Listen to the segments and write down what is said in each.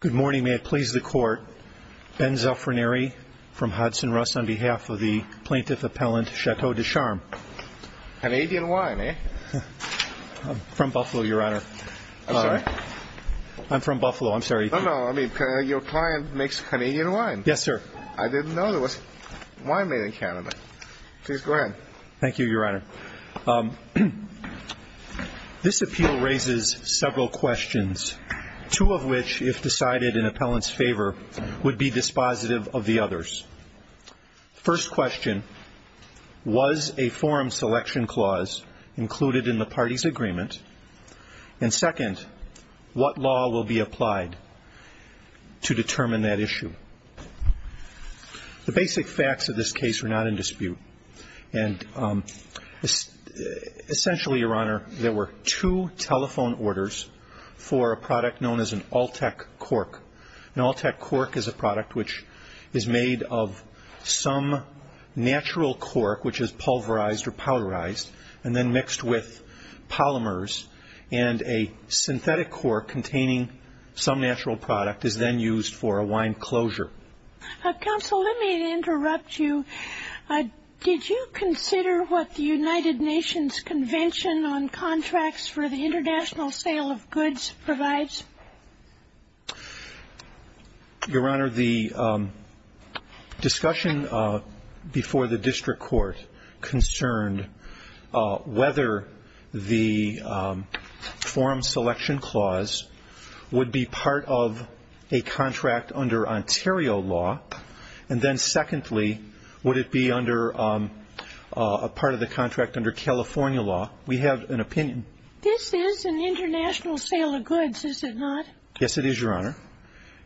Good morning. May it please the Court. Ben Zuffranieri from Hudson Rust on behalf of the Plaintiff Appellant Chateau Des Charmes. Canadian wine, eh? I'm from Buffalo, Your Honor. I'm sorry? I'm from Buffalo. I'm sorry. No, no. I mean, your client makes Canadian wine. Yes, sir. I didn't know there was wine made in Canada. Please go ahead. Thank you, Your Honor. This appeal raises several questions, two of which, if decided in appellant's favor, would be dispositive of the others. First question, was a forum selection clause included in the party's agreement? And second, what law will be applied to determine that issue? The basic facts of this case are not in dispute. And essentially, Your Honor, there were two telephone orders for a product known as an Altec cork. An Altec cork is a product which is made of some natural cork, which is pulverized or powderized, and then mixed with polymers. And a synthetic cork containing some natural product is then used for a wine closure. Counsel, let me interrupt you. Did you consider what the United Nations Convention on Contracts for the International Sale of Goods provides? Your Honor, the discussion before the district court concerned whether the forum selection clause would be part of a contract under Ontario law, and then secondly, would it be under a part of the contract under California law. We have an opinion. This is an international sale of goods, is it not? Yes, it is, Your Honor.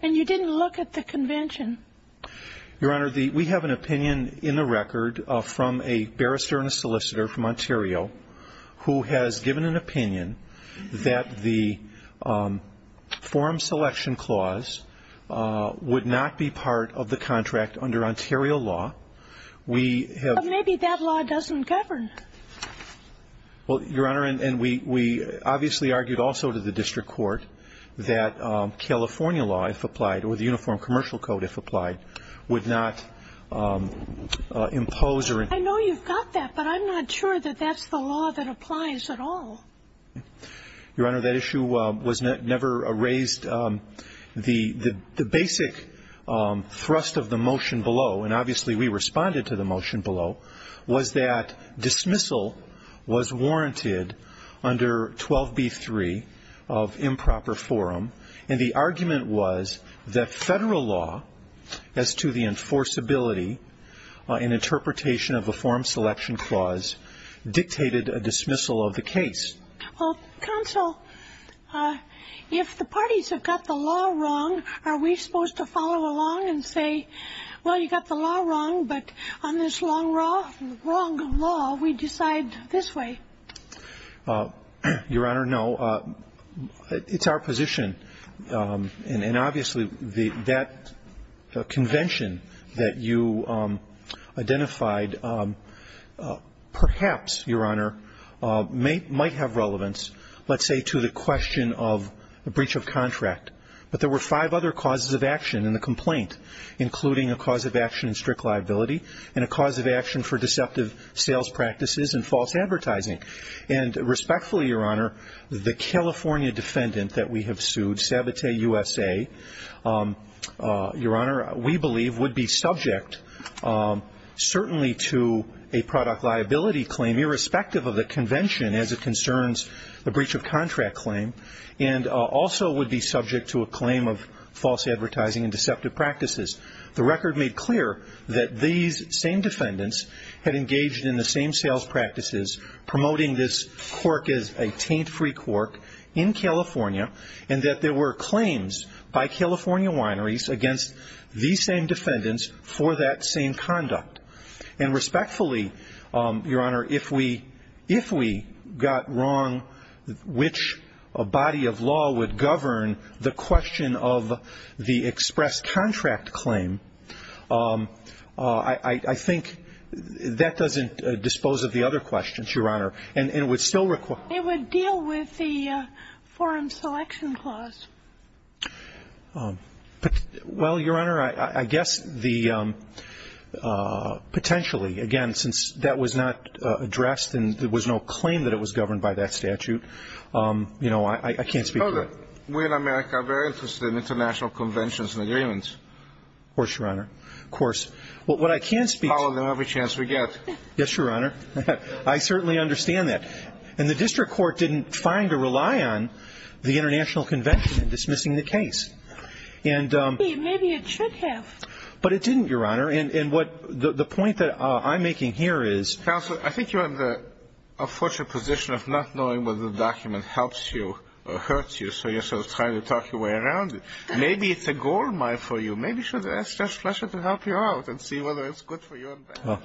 And you didn't look at the convention? Your Honor, we have an opinion in the record from a barrister and a solicitor from Ontario who has given an opinion that the forum selection clause would not be part of the contract under Ontario law. Maybe that law doesn't govern. Well, Your Honor, and we obviously argued also to the district court that California law, if applied, or the Uniform Commercial Code, if applied, would not impose or impose. I know you've got that, but I'm not sure that that's the law that applies at all. Your Honor, that issue was never raised. The basic thrust of the motion below, and obviously we responded to the motion below, was that dismissal was warranted under 12b-3 of improper forum, and the argument was that federal law as to the enforceability and interpretation of the forum selection clause dictated a dismissal of the case. Well, counsel, if the parties have got the law wrong, are we supposed to follow along and say, well, you got the law wrong, but on this wrong law, we decide this way? Your Honor, no. It's our position, and obviously that convention that you identified perhaps, Your Honor, might have relevance, let's say, to the question of the breach of contract. But there were five other causes of action in the complaint, including a cause of action in strict liability and a cause of action for deceptive sales practices and false advertising. And respectfully, Your Honor, the California defendant that we have sued, Sabote USA, Your Honor, we believe would be subject certainly to a product liability claim, irrespective of the convention as it concerns the breach of contract claim, and also would be subject to a claim of false advertising and deceptive practices. The record made clear that these same defendants had engaged in the same sales practices, promoting this cork as a taint-free cork in California, and that there were claims by California wineries against these same defendants for that same conduct. And respectfully, Your Honor, if we got wrong, which body of law would govern the question of the express contract claim, I think that doesn't dispose of the other questions, Your Honor. And it would still require ---- It would deal with the Foreign Selection Clause. Well, Your Honor, I guess the ---- potentially, again, since that was not addressed and there was no claim that it was governed by that statute, you know, I can't speak for it. We in America are very interested in international conventions and agreements. Of course, Your Honor. Of course. What I can speak ---- We follow them every chance we get. Yes, Your Honor. I certainly understand that. And the district court didn't find or rely on the international convention in dismissing the case. And ---- Maybe it should have. But it didn't, Your Honor. And what the point that I'm making here is ---- Counsel, I think you're in the unfortunate position of not knowing whether the document helps you or hurts you, so you're sort of trying to talk your way around it. Maybe it's a goldmine for you. Maybe it's just a pleasure to help you out and see whether it's good for you or bad.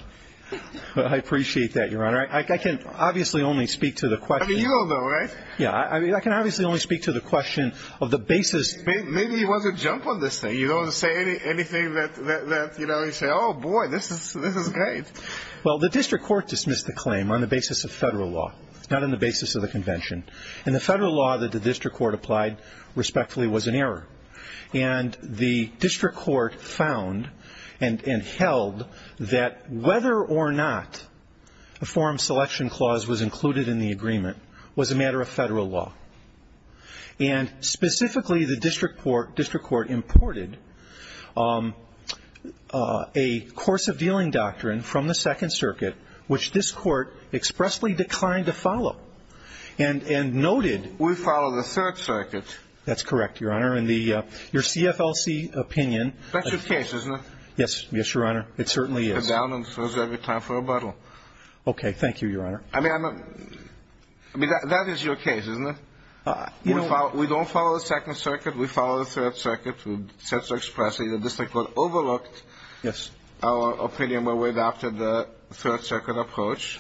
I appreciate that, Your Honor. I can obviously only speak to the question ---- I mean, you don't know, right? Yeah, I can obviously only speak to the question of the basis ---- Maybe you want to jump on this thing. You don't want to say anything that, you know, you say, oh, boy, this is great. Well, the district court dismissed the claim on the basis of federal law, not on the basis of the convention. And the district court found and held that whether or not a forum selection clause was included in the agreement was a matter of federal law. And specifically, the district court imported a course of dealing doctrine from the Second Circuit, which this court expressly declined to follow and noted ---- We follow the Third Circuit. That's correct, Your Honor. And your CFLC opinion ---- That's your case, isn't it? Yes, Your Honor. It certainly is. It comes down and throws every time for a bottle. Okay. Thank you, Your Honor. I mean, that is your case, isn't it? We don't follow the Second Circuit. We follow the Third Circuit. We said so expressly. The district court overlooked our opinion when we adopted the Third Circuit approach.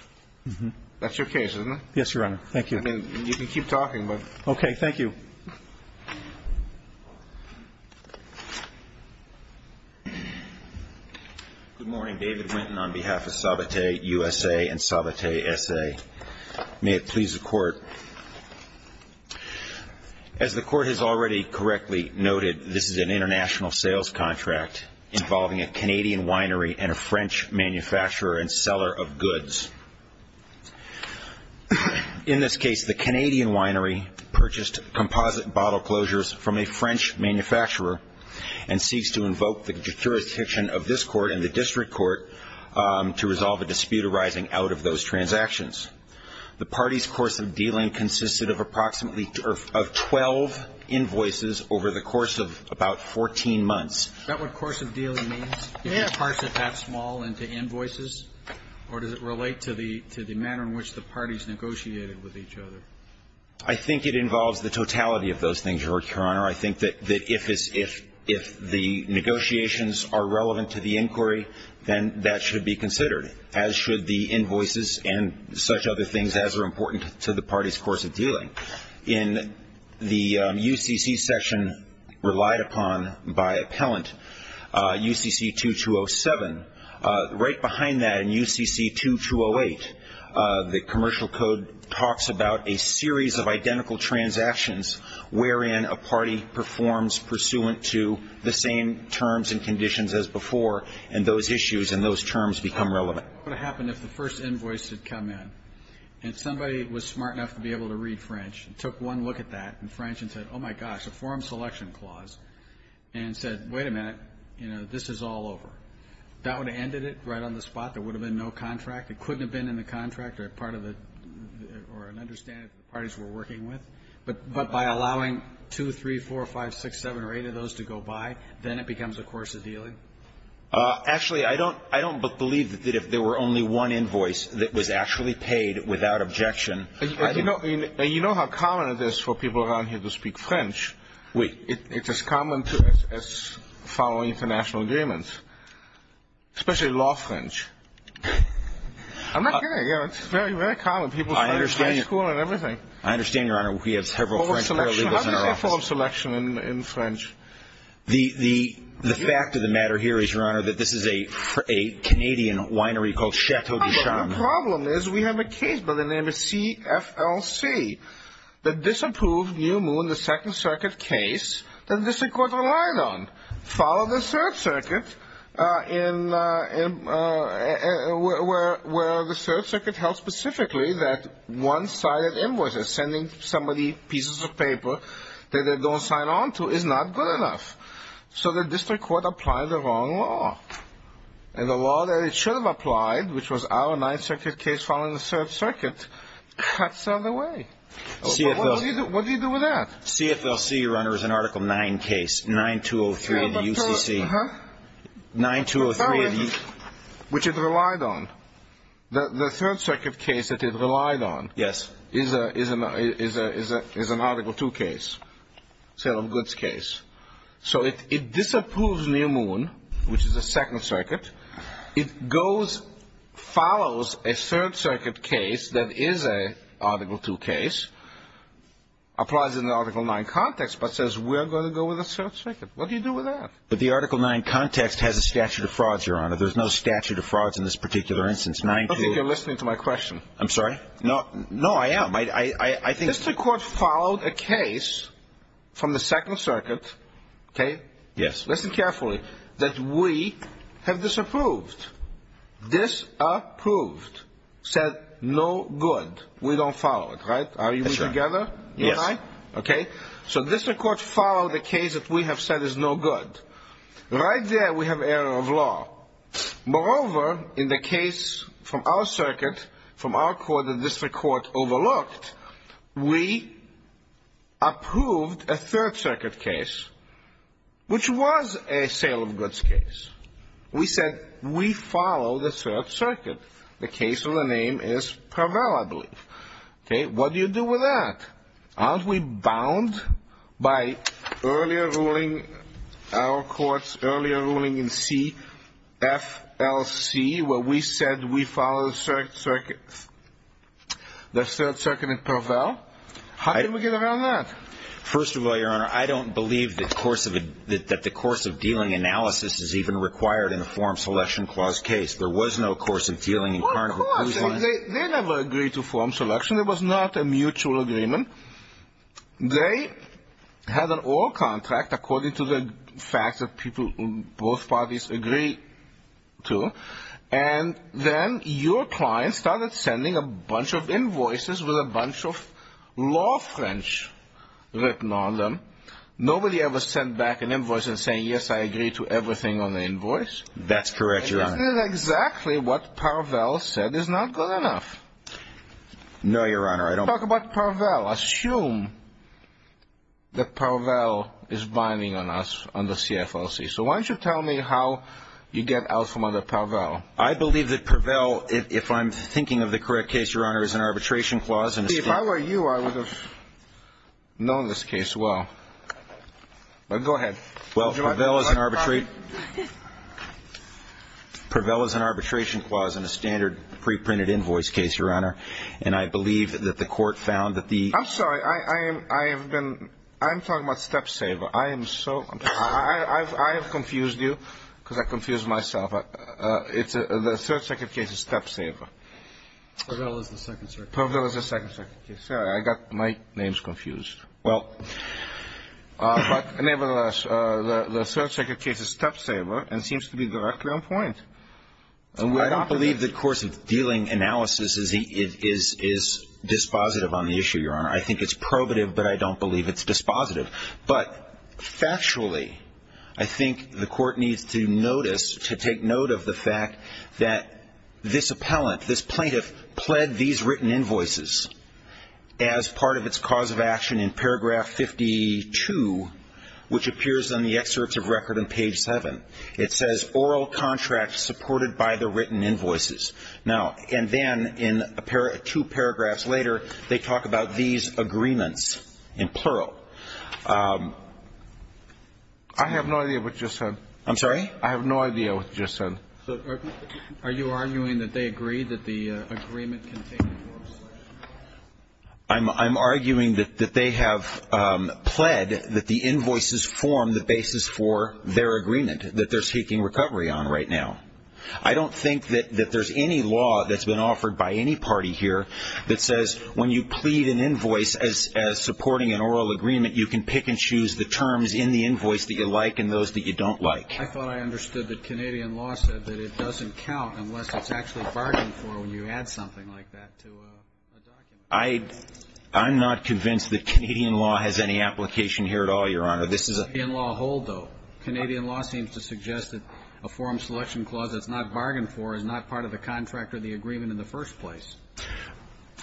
Yes, Your Honor. Thank you. I mean, you can keep talking, but ---- Okay. Thank you. Good morning. David Winton on behalf of Sabatier USA and Sabatier SA. May it please the Court. As the Court has already correctly noted, this is an international sales contract involving a Canadian winery and a French manufacturer and seller of goods. In this case, the Canadian winery purchased composite bottle closures from a French manufacturer and seeks to invoke the jurisdiction of this Court and the district court to resolve a dispute arising out of those transactions. The party's course of dealing consisted of approximately 12 invoices over the course of about 14 months. Is that what course of dealing means? Yes. Does it parse it that small into invoices, or does it relate to the manner in which the parties negotiated with each other? I think it involves the totality of those things, Your Honor. I think that if the negotiations are relevant to the inquiry, then that should be considered, as should the invoices and such other things as are important to the party's course of dealing. In the UCC section relied upon by appellant, UCC 2207, right behind that in UCC 2208, the commercial code talks about a series of identical transactions wherein a party performs pursuant to the same terms and conditions as before and those issues and those terms become relevant. What would happen if the first invoice had come in and somebody was smart enough to be able to read French and took one look at that in French and said, oh, my gosh, a forum selection clause, and said, wait a minute, you know, this is all over. That would have ended it right on the spot. There would have been no contract. It couldn't have been in the contract or part of the or an understanding that the parties were working with. But by allowing 2, 3, 4, 5, 6, 7, or 8 of those to go by, then it becomes a course of dealing? Actually, I don't believe that if there were only one invoice that was actually paid without objection. You know how common it is for people around here to speak French? It's as common as following international agreements, especially law French. I'm not kidding. It's very, very common. People from high school and everything. I understand, Your Honor. We have several French paralegals in our office. How do you say forum selection in French? The fact of the matter here is, Your Honor, that this is a Canadian winery called Chateau du Champ. The problem is we have a case by the name of CFLC that disapproved New Moon, the Second Circuit case, that the district court relied on. Follow the Third Circuit where the Third Circuit held specifically that one-sided invoices, sending somebody pieces of paper that they don't sign on to, is not good enough. So the district court applied the wrong law. And the law that it should have applied, which was our Ninth Circuit case following the Third Circuit, cuts out of the way. What do you do with that? CFLC, Your Honor, is an Article 9 case. 9203 of the UCC. 9203 of the UCC. Which it relied on. The Third Circuit case that it relied on. Yes. Is an Article 2 case. Sale of goods case. So it disapproves New Moon, which is the Second Circuit. It goes, follows a Third Circuit case that is an Article 2 case, applies it in the Article 9 context, but says we're going to go with the Third Circuit. What do you do with that? But the Article 9 context has a statute of frauds, Your Honor. There's no statute of frauds in this particular instance. I don't think you're listening to my question. I'm sorry? No, I am. Mr. Court followed a case from the Second Circuit, okay? Yes. Listen carefully. That we have disapproved. Dis-approved. Said no good. We don't follow it, right? Are we together? Yes. Okay. So Mr. Court followed a case that we have said is no good. Right there we have error of law. Moreover, in the case from our circuit, from our court, the district court overlooked, we approved a Third Circuit case, which was a sale of goods case. We said we follow the Third Circuit. The case of the name is Parvell, I believe. Okay. What do you do with that? Aren't we bound by earlier ruling, our court's earlier ruling in C-F-L-C, where we said we follow the Third Circuit in Parvell? How did we get around that? First of all, Your Honor, I don't believe that the course of dealing analysis is even required in a form selection clause case. There was no course of dealing in Carnot. Of course. They never agreed to form selection. There was not a mutual agreement. They had an oil contract according to the facts that both parties agree to, and then your client started sending a bunch of invoices with a bunch of law French written on them. Nobody ever sent back an invoice and saying, yes, I agree to everything on the invoice. That's correct, Your Honor. Isn't that exactly what Parvell said is not good enough? No, Your Honor. Talk about Parvell. Assume that Parvell is vining on us on the C-F-L-C. So why don't you tell me how you get out from under Parvell? I believe that Parvell, if I'm thinking of the correct case, Your Honor, is an arbitration clause. See, if I were you, I would have known this case well. Go ahead. Well, Parvell is an arbitration clause in a standard preprinted invoice case, Your Honor, and I believe that the court found that the ---- I'm sorry. I have been ---- I'm talking about Stepsaver. I am so ---- I have confused you because I confused myself. The third second case is Stepsaver. Parvell is the second second case. Parvell is the second second case. Sorry, I got my names confused. Well, but nevertheless, the third second case is Stepsaver and seems to be directly on point. I don't believe the course of dealing analysis is dispositive on the issue, Your Honor. I think it's probative, but I don't believe it's dispositive. But factually, I think the court needs to notice, to take note of the fact that this appellant, this plaintiff, pled these written invoices as part of its cause of action in paragraph 52, which appears on the excerpts of record on page 7. It says, Oral contract supported by the written invoices. Now, and then in two paragraphs later, they talk about these agreements in plural. I have no idea what you're saying. I'm sorry? I have no idea what you're saying. So are you arguing that they agreed that the agreement contained oral selection? I'm arguing that they have pled that the invoices form the basis for their agreement, that they're seeking recovery on right now. I don't think that there's any law that's been offered by any party here that says when you plead an invoice as supporting an oral agreement, you can pick and choose the terms in the invoice that you like and those that you don't like. I thought I understood that Canadian law said that it doesn't count unless it's actually bargained for when you add something like that to a document. I'm not convinced that Canadian law has any application here at all, Your Honor. Canadian law hold, though. Canadian law seems to suggest that a forum selection clause that's not bargained for is not part of the contract or the agreement in the first place.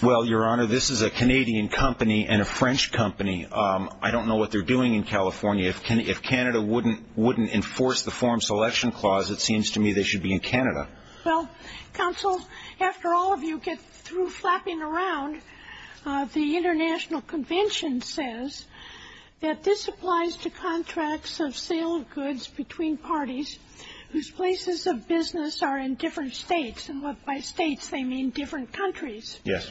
Well, Your Honor, this is a Canadian company and a French company. I don't know what they're doing in California. If Canada wouldn't enforce the forum selection clause, it seems to me they should be in Canada. Well, counsel, after all of you get through flapping around, the International Convention says that this applies to contracts of sale of goods between parties whose places of business are in different states. And by states, they mean different countries. Yes.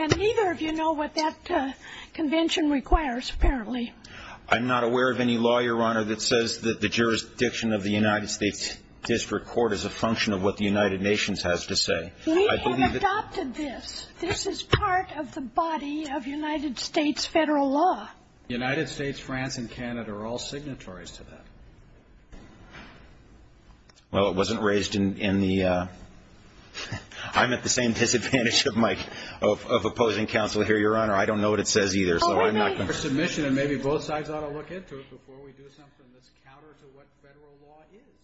And neither of you know what that convention requires, apparently. I'm not aware of any law, Your Honor, that says that the jurisdiction of the United States District Court is a function of what the United Nations has to say. We have adopted this. This is part of the body of United States federal law. The United States, France, and Canada are all signatories to that. Well, it wasn't raised in the ‑‑ I'm at the same disadvantage of opposing counsel here, Your Honor. I don't know what it says either. Oh, we might have a submission, and maybe both sides ought to look into it before we do something that's counter to what federal law is.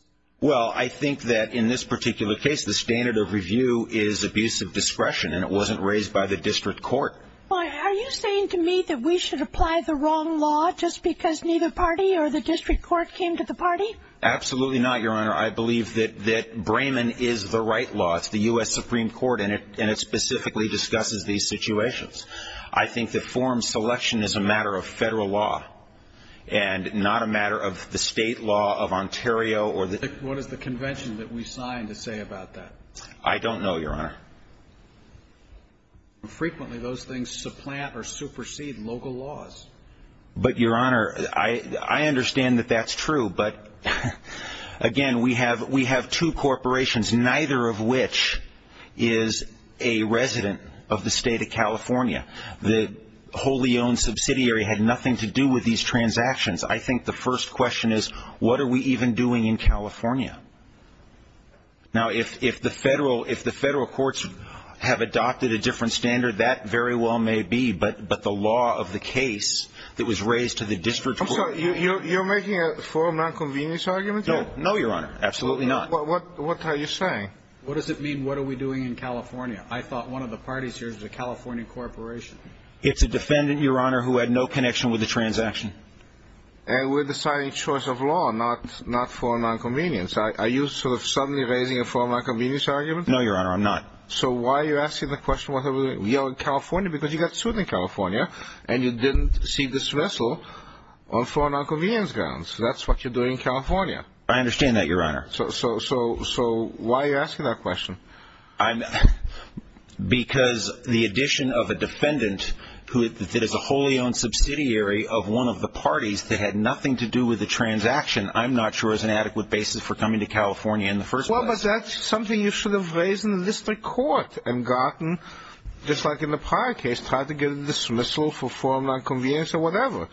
Well, I think that in this particular case, the standard of review is abusive discretion, and it wasn't raised by the district court. Are you saying to me that we should apply the wrong law just because neither party or the district court came to the party? Absolutely not, Your Honor. I believe that Brayman is the right law. It's the U.S. Supreme Court, and it specifically discusses these situations. I think that forum selection is a matter of federal law and not a matter of the state law of Ontario or the ‑‑ What is the convention that we signed to say about that? I don't know, Your Honor. Frequently those things supplant or supersede local laws. But, Your Honor, I understand that that's true, but, again, we have two corporations, neither of which is a resident of the state of California. The wholly owned subsidiary had nothing to do with these transactions. I think the first question is what are we even doing in California? Now, if the federal courts have adopted a different standard, that very well may be, but the law of the case that was raised to the district court ‑‑ So you're making a forum nonconvenience argument here? No, Your Honor, absolutely not. What are you saying? What does it mean, what are we doing in California? I thought one of the parties here is the California corporation. It's a defendant, Your Honor, who had no connection with the transaction. And we're deciding choice of law, not forum nonconvenience. Are you sort of suddenly raising a forum nonconvenience argument? No, Your Honor, I'm not. So why are you asking the question, what are we doing? We are in California because you got sued in California, and you didn't see this vessel on forum nonconvenience grounds. That's what you're doing in California. I understand that, Your Honor. So why are you asking that question? Because the addition of a defendant that is a wholly owned subsidiary of one of the parties that had nothing to do with the transaction, I'm not sure is an adequate basis for coming to California in the first place. Well, but that's something you should have raised in the district court and gotten, just like in the prior case, tried to get a dismissal for forum nonconvenience or whatever.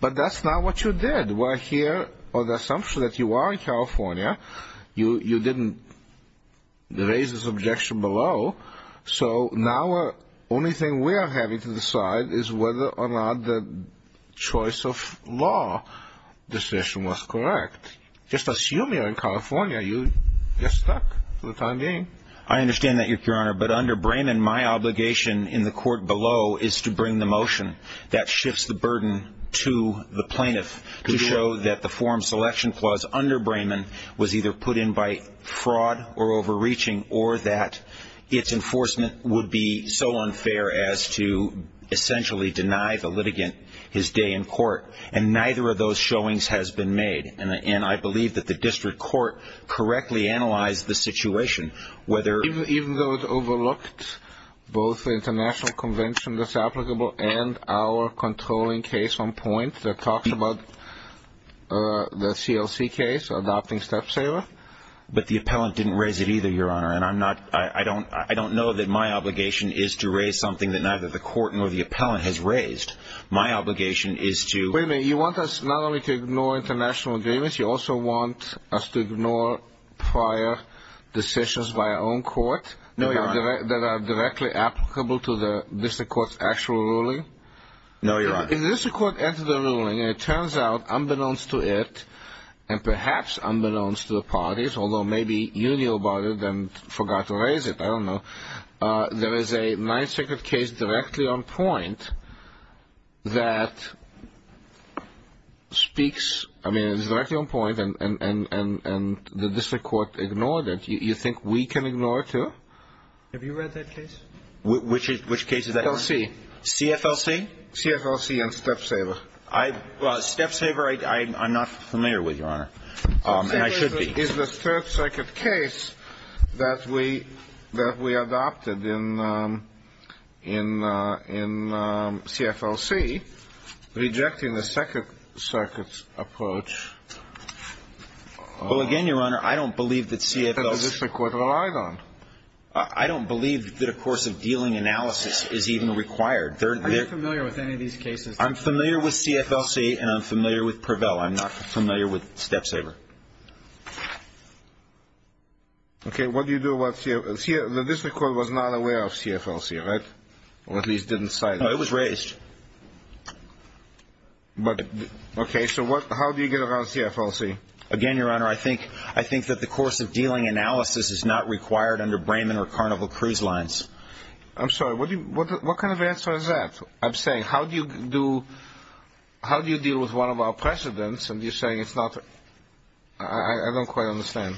But that's not what you did. We're here on the assumption that you are in California. You didn't raise this objection below. So now the only thing we are having to decide is whether or not the choice of law decision was correct. Just assume you're in California. You're stuck for the time being. I understand that, Your Honor. But under Brayman, my obligation in the court below is to bring the motion that shifts the burden to the plaintiff to show that the forum selection clause under Brayman was either put in by fraud or overreaching or that its enforcement would be so unfair as to essentially deny the litigant his day in court. And neither of those showings has been made. And I believe that the district court correctly analyzed the situation whether Even though it overlooked both the international convention that's applicable and our controlling case on point that talks about the CLC case, adopting Stepsaver? But the appellant didn't raise it either, Your Honor. And I don't know that my obligation is to raise something that neither the court nor the appellant has raised. My obligation is to Wait a minute. You want us not only to ignore international agreements. You also want us to ignore prior decisions by our own court? No, Your Honor. That are directly applicable to the district court's actual ruling? No, Your Honor. If the district court entered a ruling and it turns out unbeknownst to it and perhaps unbeknownst to the parties, although maybe you knew about it and forgot to raise it, I don't know, there is a Ninth Circuit case directly on point that speaks I mean, it's directly on point and the district court ignored it. You think we can ignore it, too? Have you read that case? Which case is that, Your Honor? CLC. CFLC? CFLC and Stepsaver. Well, Stepsaver I'm not familiar with, Your Honor. And I should be. Is the Third Circuit case that we adopted in CFLC rejecting the Second Circuit's approach? Well, again, Your Honor, I don't believe that CFLC That the district court relied on. I don't believe that a course of dealing analysis is even required. Are you familiar with any of these cases? I'm familiar with CFLC and I'm familiar with Prevail. I'm not familiar with Stepsaver. Okay. What do you do about CFLC? The district court was not aware of CFLC, right? Or at least didn't cite it. No, it was raised. Okay. So how do you get around CFLC? Again, Your Honor, I think that the course of dealing analysis is not required under Brayman or Carnival Cruise Lines. I'm sorry. What kind of answer is that? I'm saying, how do you deal with one of our precedents? And you're saying it's not? I don't quite understand.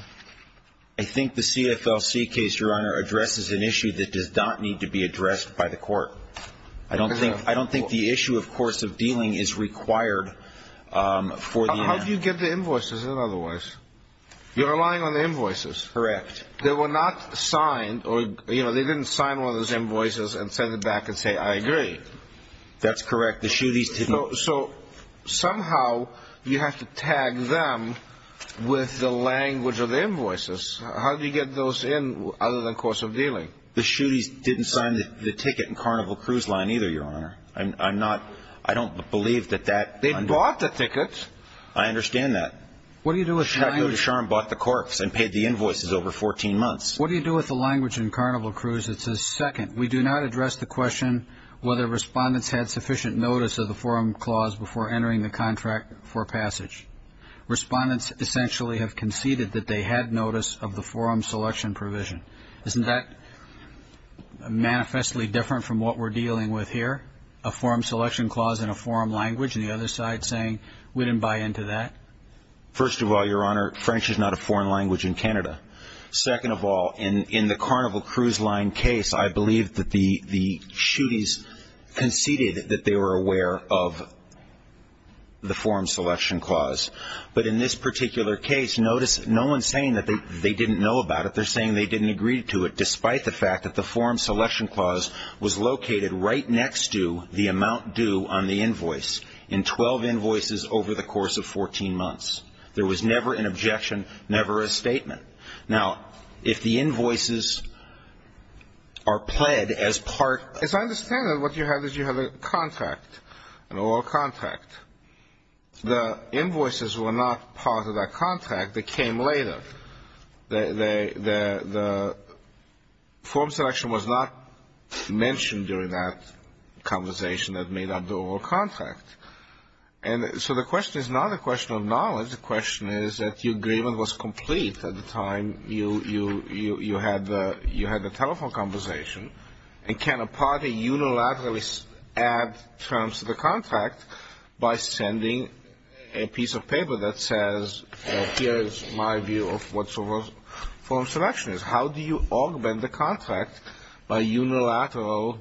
I think the CFLC case, Your Honor, addresses an issue that does not need to be addressed by the court. I don't think the issue, of course, of dealing is required. How do you get the invoices in otherwise? You're relying on the invoices. Correct. They were not signed or, you know, they didn't sign one of those invoices and send it back and say, I agree. That's correct. The shooties didn't. So somehow you have to tag them with the language of the invoices. How do you get those in other than course of dealing? The shooties didn't sign the ticket in Carnival Cruise Line either, Your Honor. I don't believe that that. They bought the ticket. I understand that. What do you do with the language? Sharon bought the corpse and paid the invoices over 14 months. What do you do with the language in Carnival Cruise that says, second, we do not address the question whether respondents had sufficient notice of the forum clause before entering the contract for passage. Respondents essentially have conceded that they had notice of the forum selection provision. Isn't that manifestly different from what we're dealing with here, a forum selection clause in a forum language and the other side saying we didn't buy into that? First of all, Your Honor, French is not a foreign language in Canada. Second of all, in the Carnival Cruise Line case, I believe that the shooties conceded that they were aware of the forum selection clause. But in this particular case, notice no one's saying that they didn't know about it. They're saying they didn't agree to it, despite the fact that the forum selection clause was located right next to the amount due on the invoice in 12 invoices over the course of 14 months. There was never an objection, never a statement. Now, if the invoices are pled as part of the contract, as I understand it, what you have is you have a contract, an oral contract. The invoices were not part of that contract. They came later. The forum selection was not mentioned during that conversation that made up the oral contract. And so the question is not a question of knowledge. The question is that your agreement was complete at the time you had the telephone conversation. And can a party unilaterally add terms to the contract by sending a piece of paper that says, here is my view of what forum selection is? How do you augment the contract by unilateral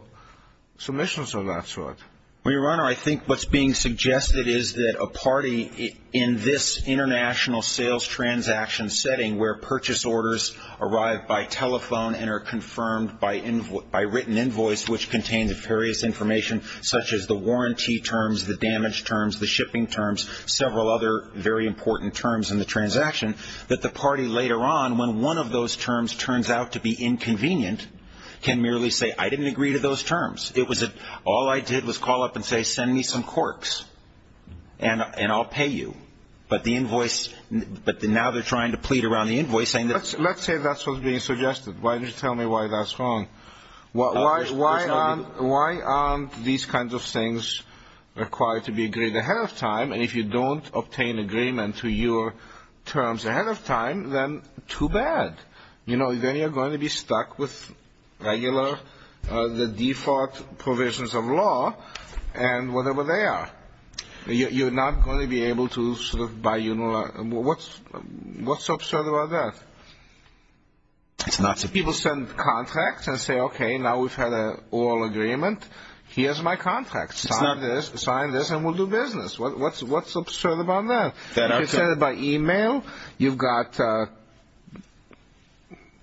submissions of that sort? Well, Your Honor, I think what's being suggested is that a party in this international sales transaction setting where purchase orders arrive by telephone and are confirmed by written invoice, which contains various information such as the warranty terms, the damage terms, the shipping terms, several other very important terms in the transaction, that the party later on when one of those terms turns out to be inconvenient can merely say, I didn't agree to those terms. It was all I did was call up and say, send me some corks, and I'll pay you. But now they're trying to plead around the invoicing. Let's say that's what's being suggested. Why don't you tell me why that's wrong? Why aren't these kinds of things required to be agreed ahead of time? And if you don't obtain agreement to your terms ahead of time, then too bad. Then you're going to be stuck with the default provisions of law and whatever they are. You're not going to be able to sort of buy your own law. What's so absurd about that? People send contracts and say, okay, now we've had an oral agreement. Here's my contract. Sign this and we'll do business. What's so absurd about that? If you send it by e-mail, you've got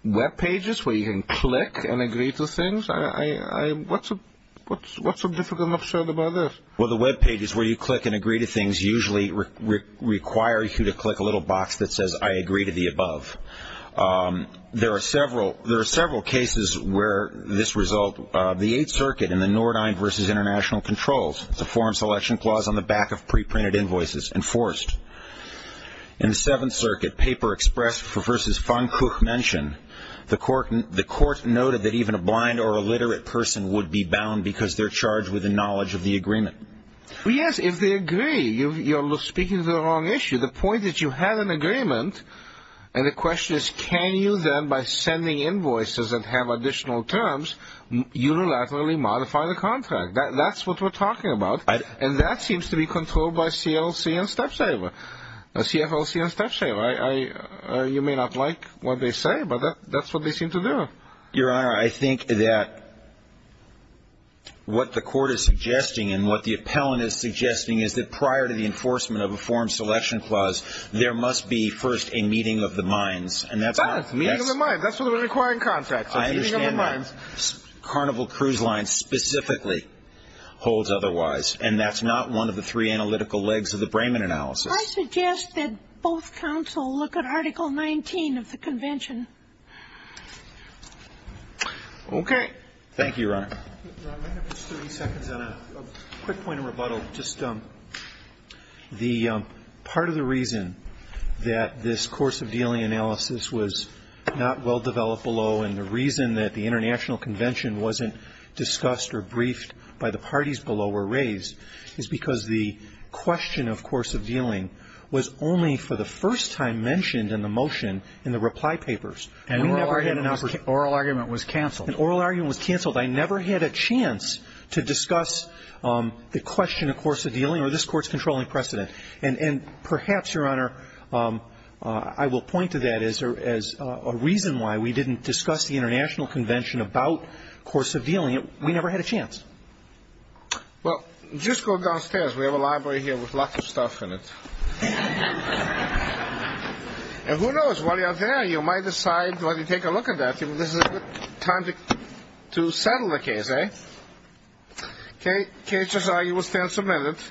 Web pages where you can click and agree to things. What's so difficult and absurd about this? Well, the Web pages where you click and agree to things usually require you to click a little box that says, I agree to the above. There are several cases where this result, the Eighth Circuit in the Nordheim v. International Controls, the form selection clause on the back of pre-printed invoices, enforced. In the Seventh Circuit, paper expressed for v. Von Kuchmenschen, the court noted that even a blind or illiterate person would be bound because they're charged with the knowledge of the agreement. Yes, if they agree. You're speaking to the wrong issue. The point is you have an agreement, and the question is can you then, by sending invoices and have additional terms, unilaterally modify the contract? That's what we're talking about. And that seems to be controlled by C.L.C. and Stepsaver. C.F.L.C. and Stepsaver. You may not like what they say, but that's what they seem to do. Your Honor, I think that what the Court is suggesting and what the appellant is suggesting is that prior to the enforcement of a form selection clause, there must be first a meeting of the minds. That's a meeting of the minds. That's what we're requiring contracts, a meeting of the minds. I understand that. Carnival Cruise Line specifically holds otherwise, and that's not one of the three analytical legs of the Brayman analysis. I suggest that both counsel look at Article 19 of the Convention. Okay. Thank you, Your Honor. Ron, may I have just 30 seconds on a quick point of rebuttal? Just the part of the reason that this course of dealing analysis was not well-developed below and the reason that the International Convention wasn't discussed or briefed by the parties below were raised is because the question of course of dealing was only for the first time mentioned in the motion in the reply papers. And an oral argument was canceled. An oral argument was canceled. I never had a chance to discuss the question of course of dealing or this Court's controlling precedent. And perhaps, Your Honor, I will point to that as a reason why we didn't discuss the International Convention about course of dealing. We never had a chance. Well, just go downstairs. We have a library here with lots of stuff in it. And who knows? While you're out there, you might decide to take a look at that. This is a good time to settle the case, eh? KHSI, you will stand submitted.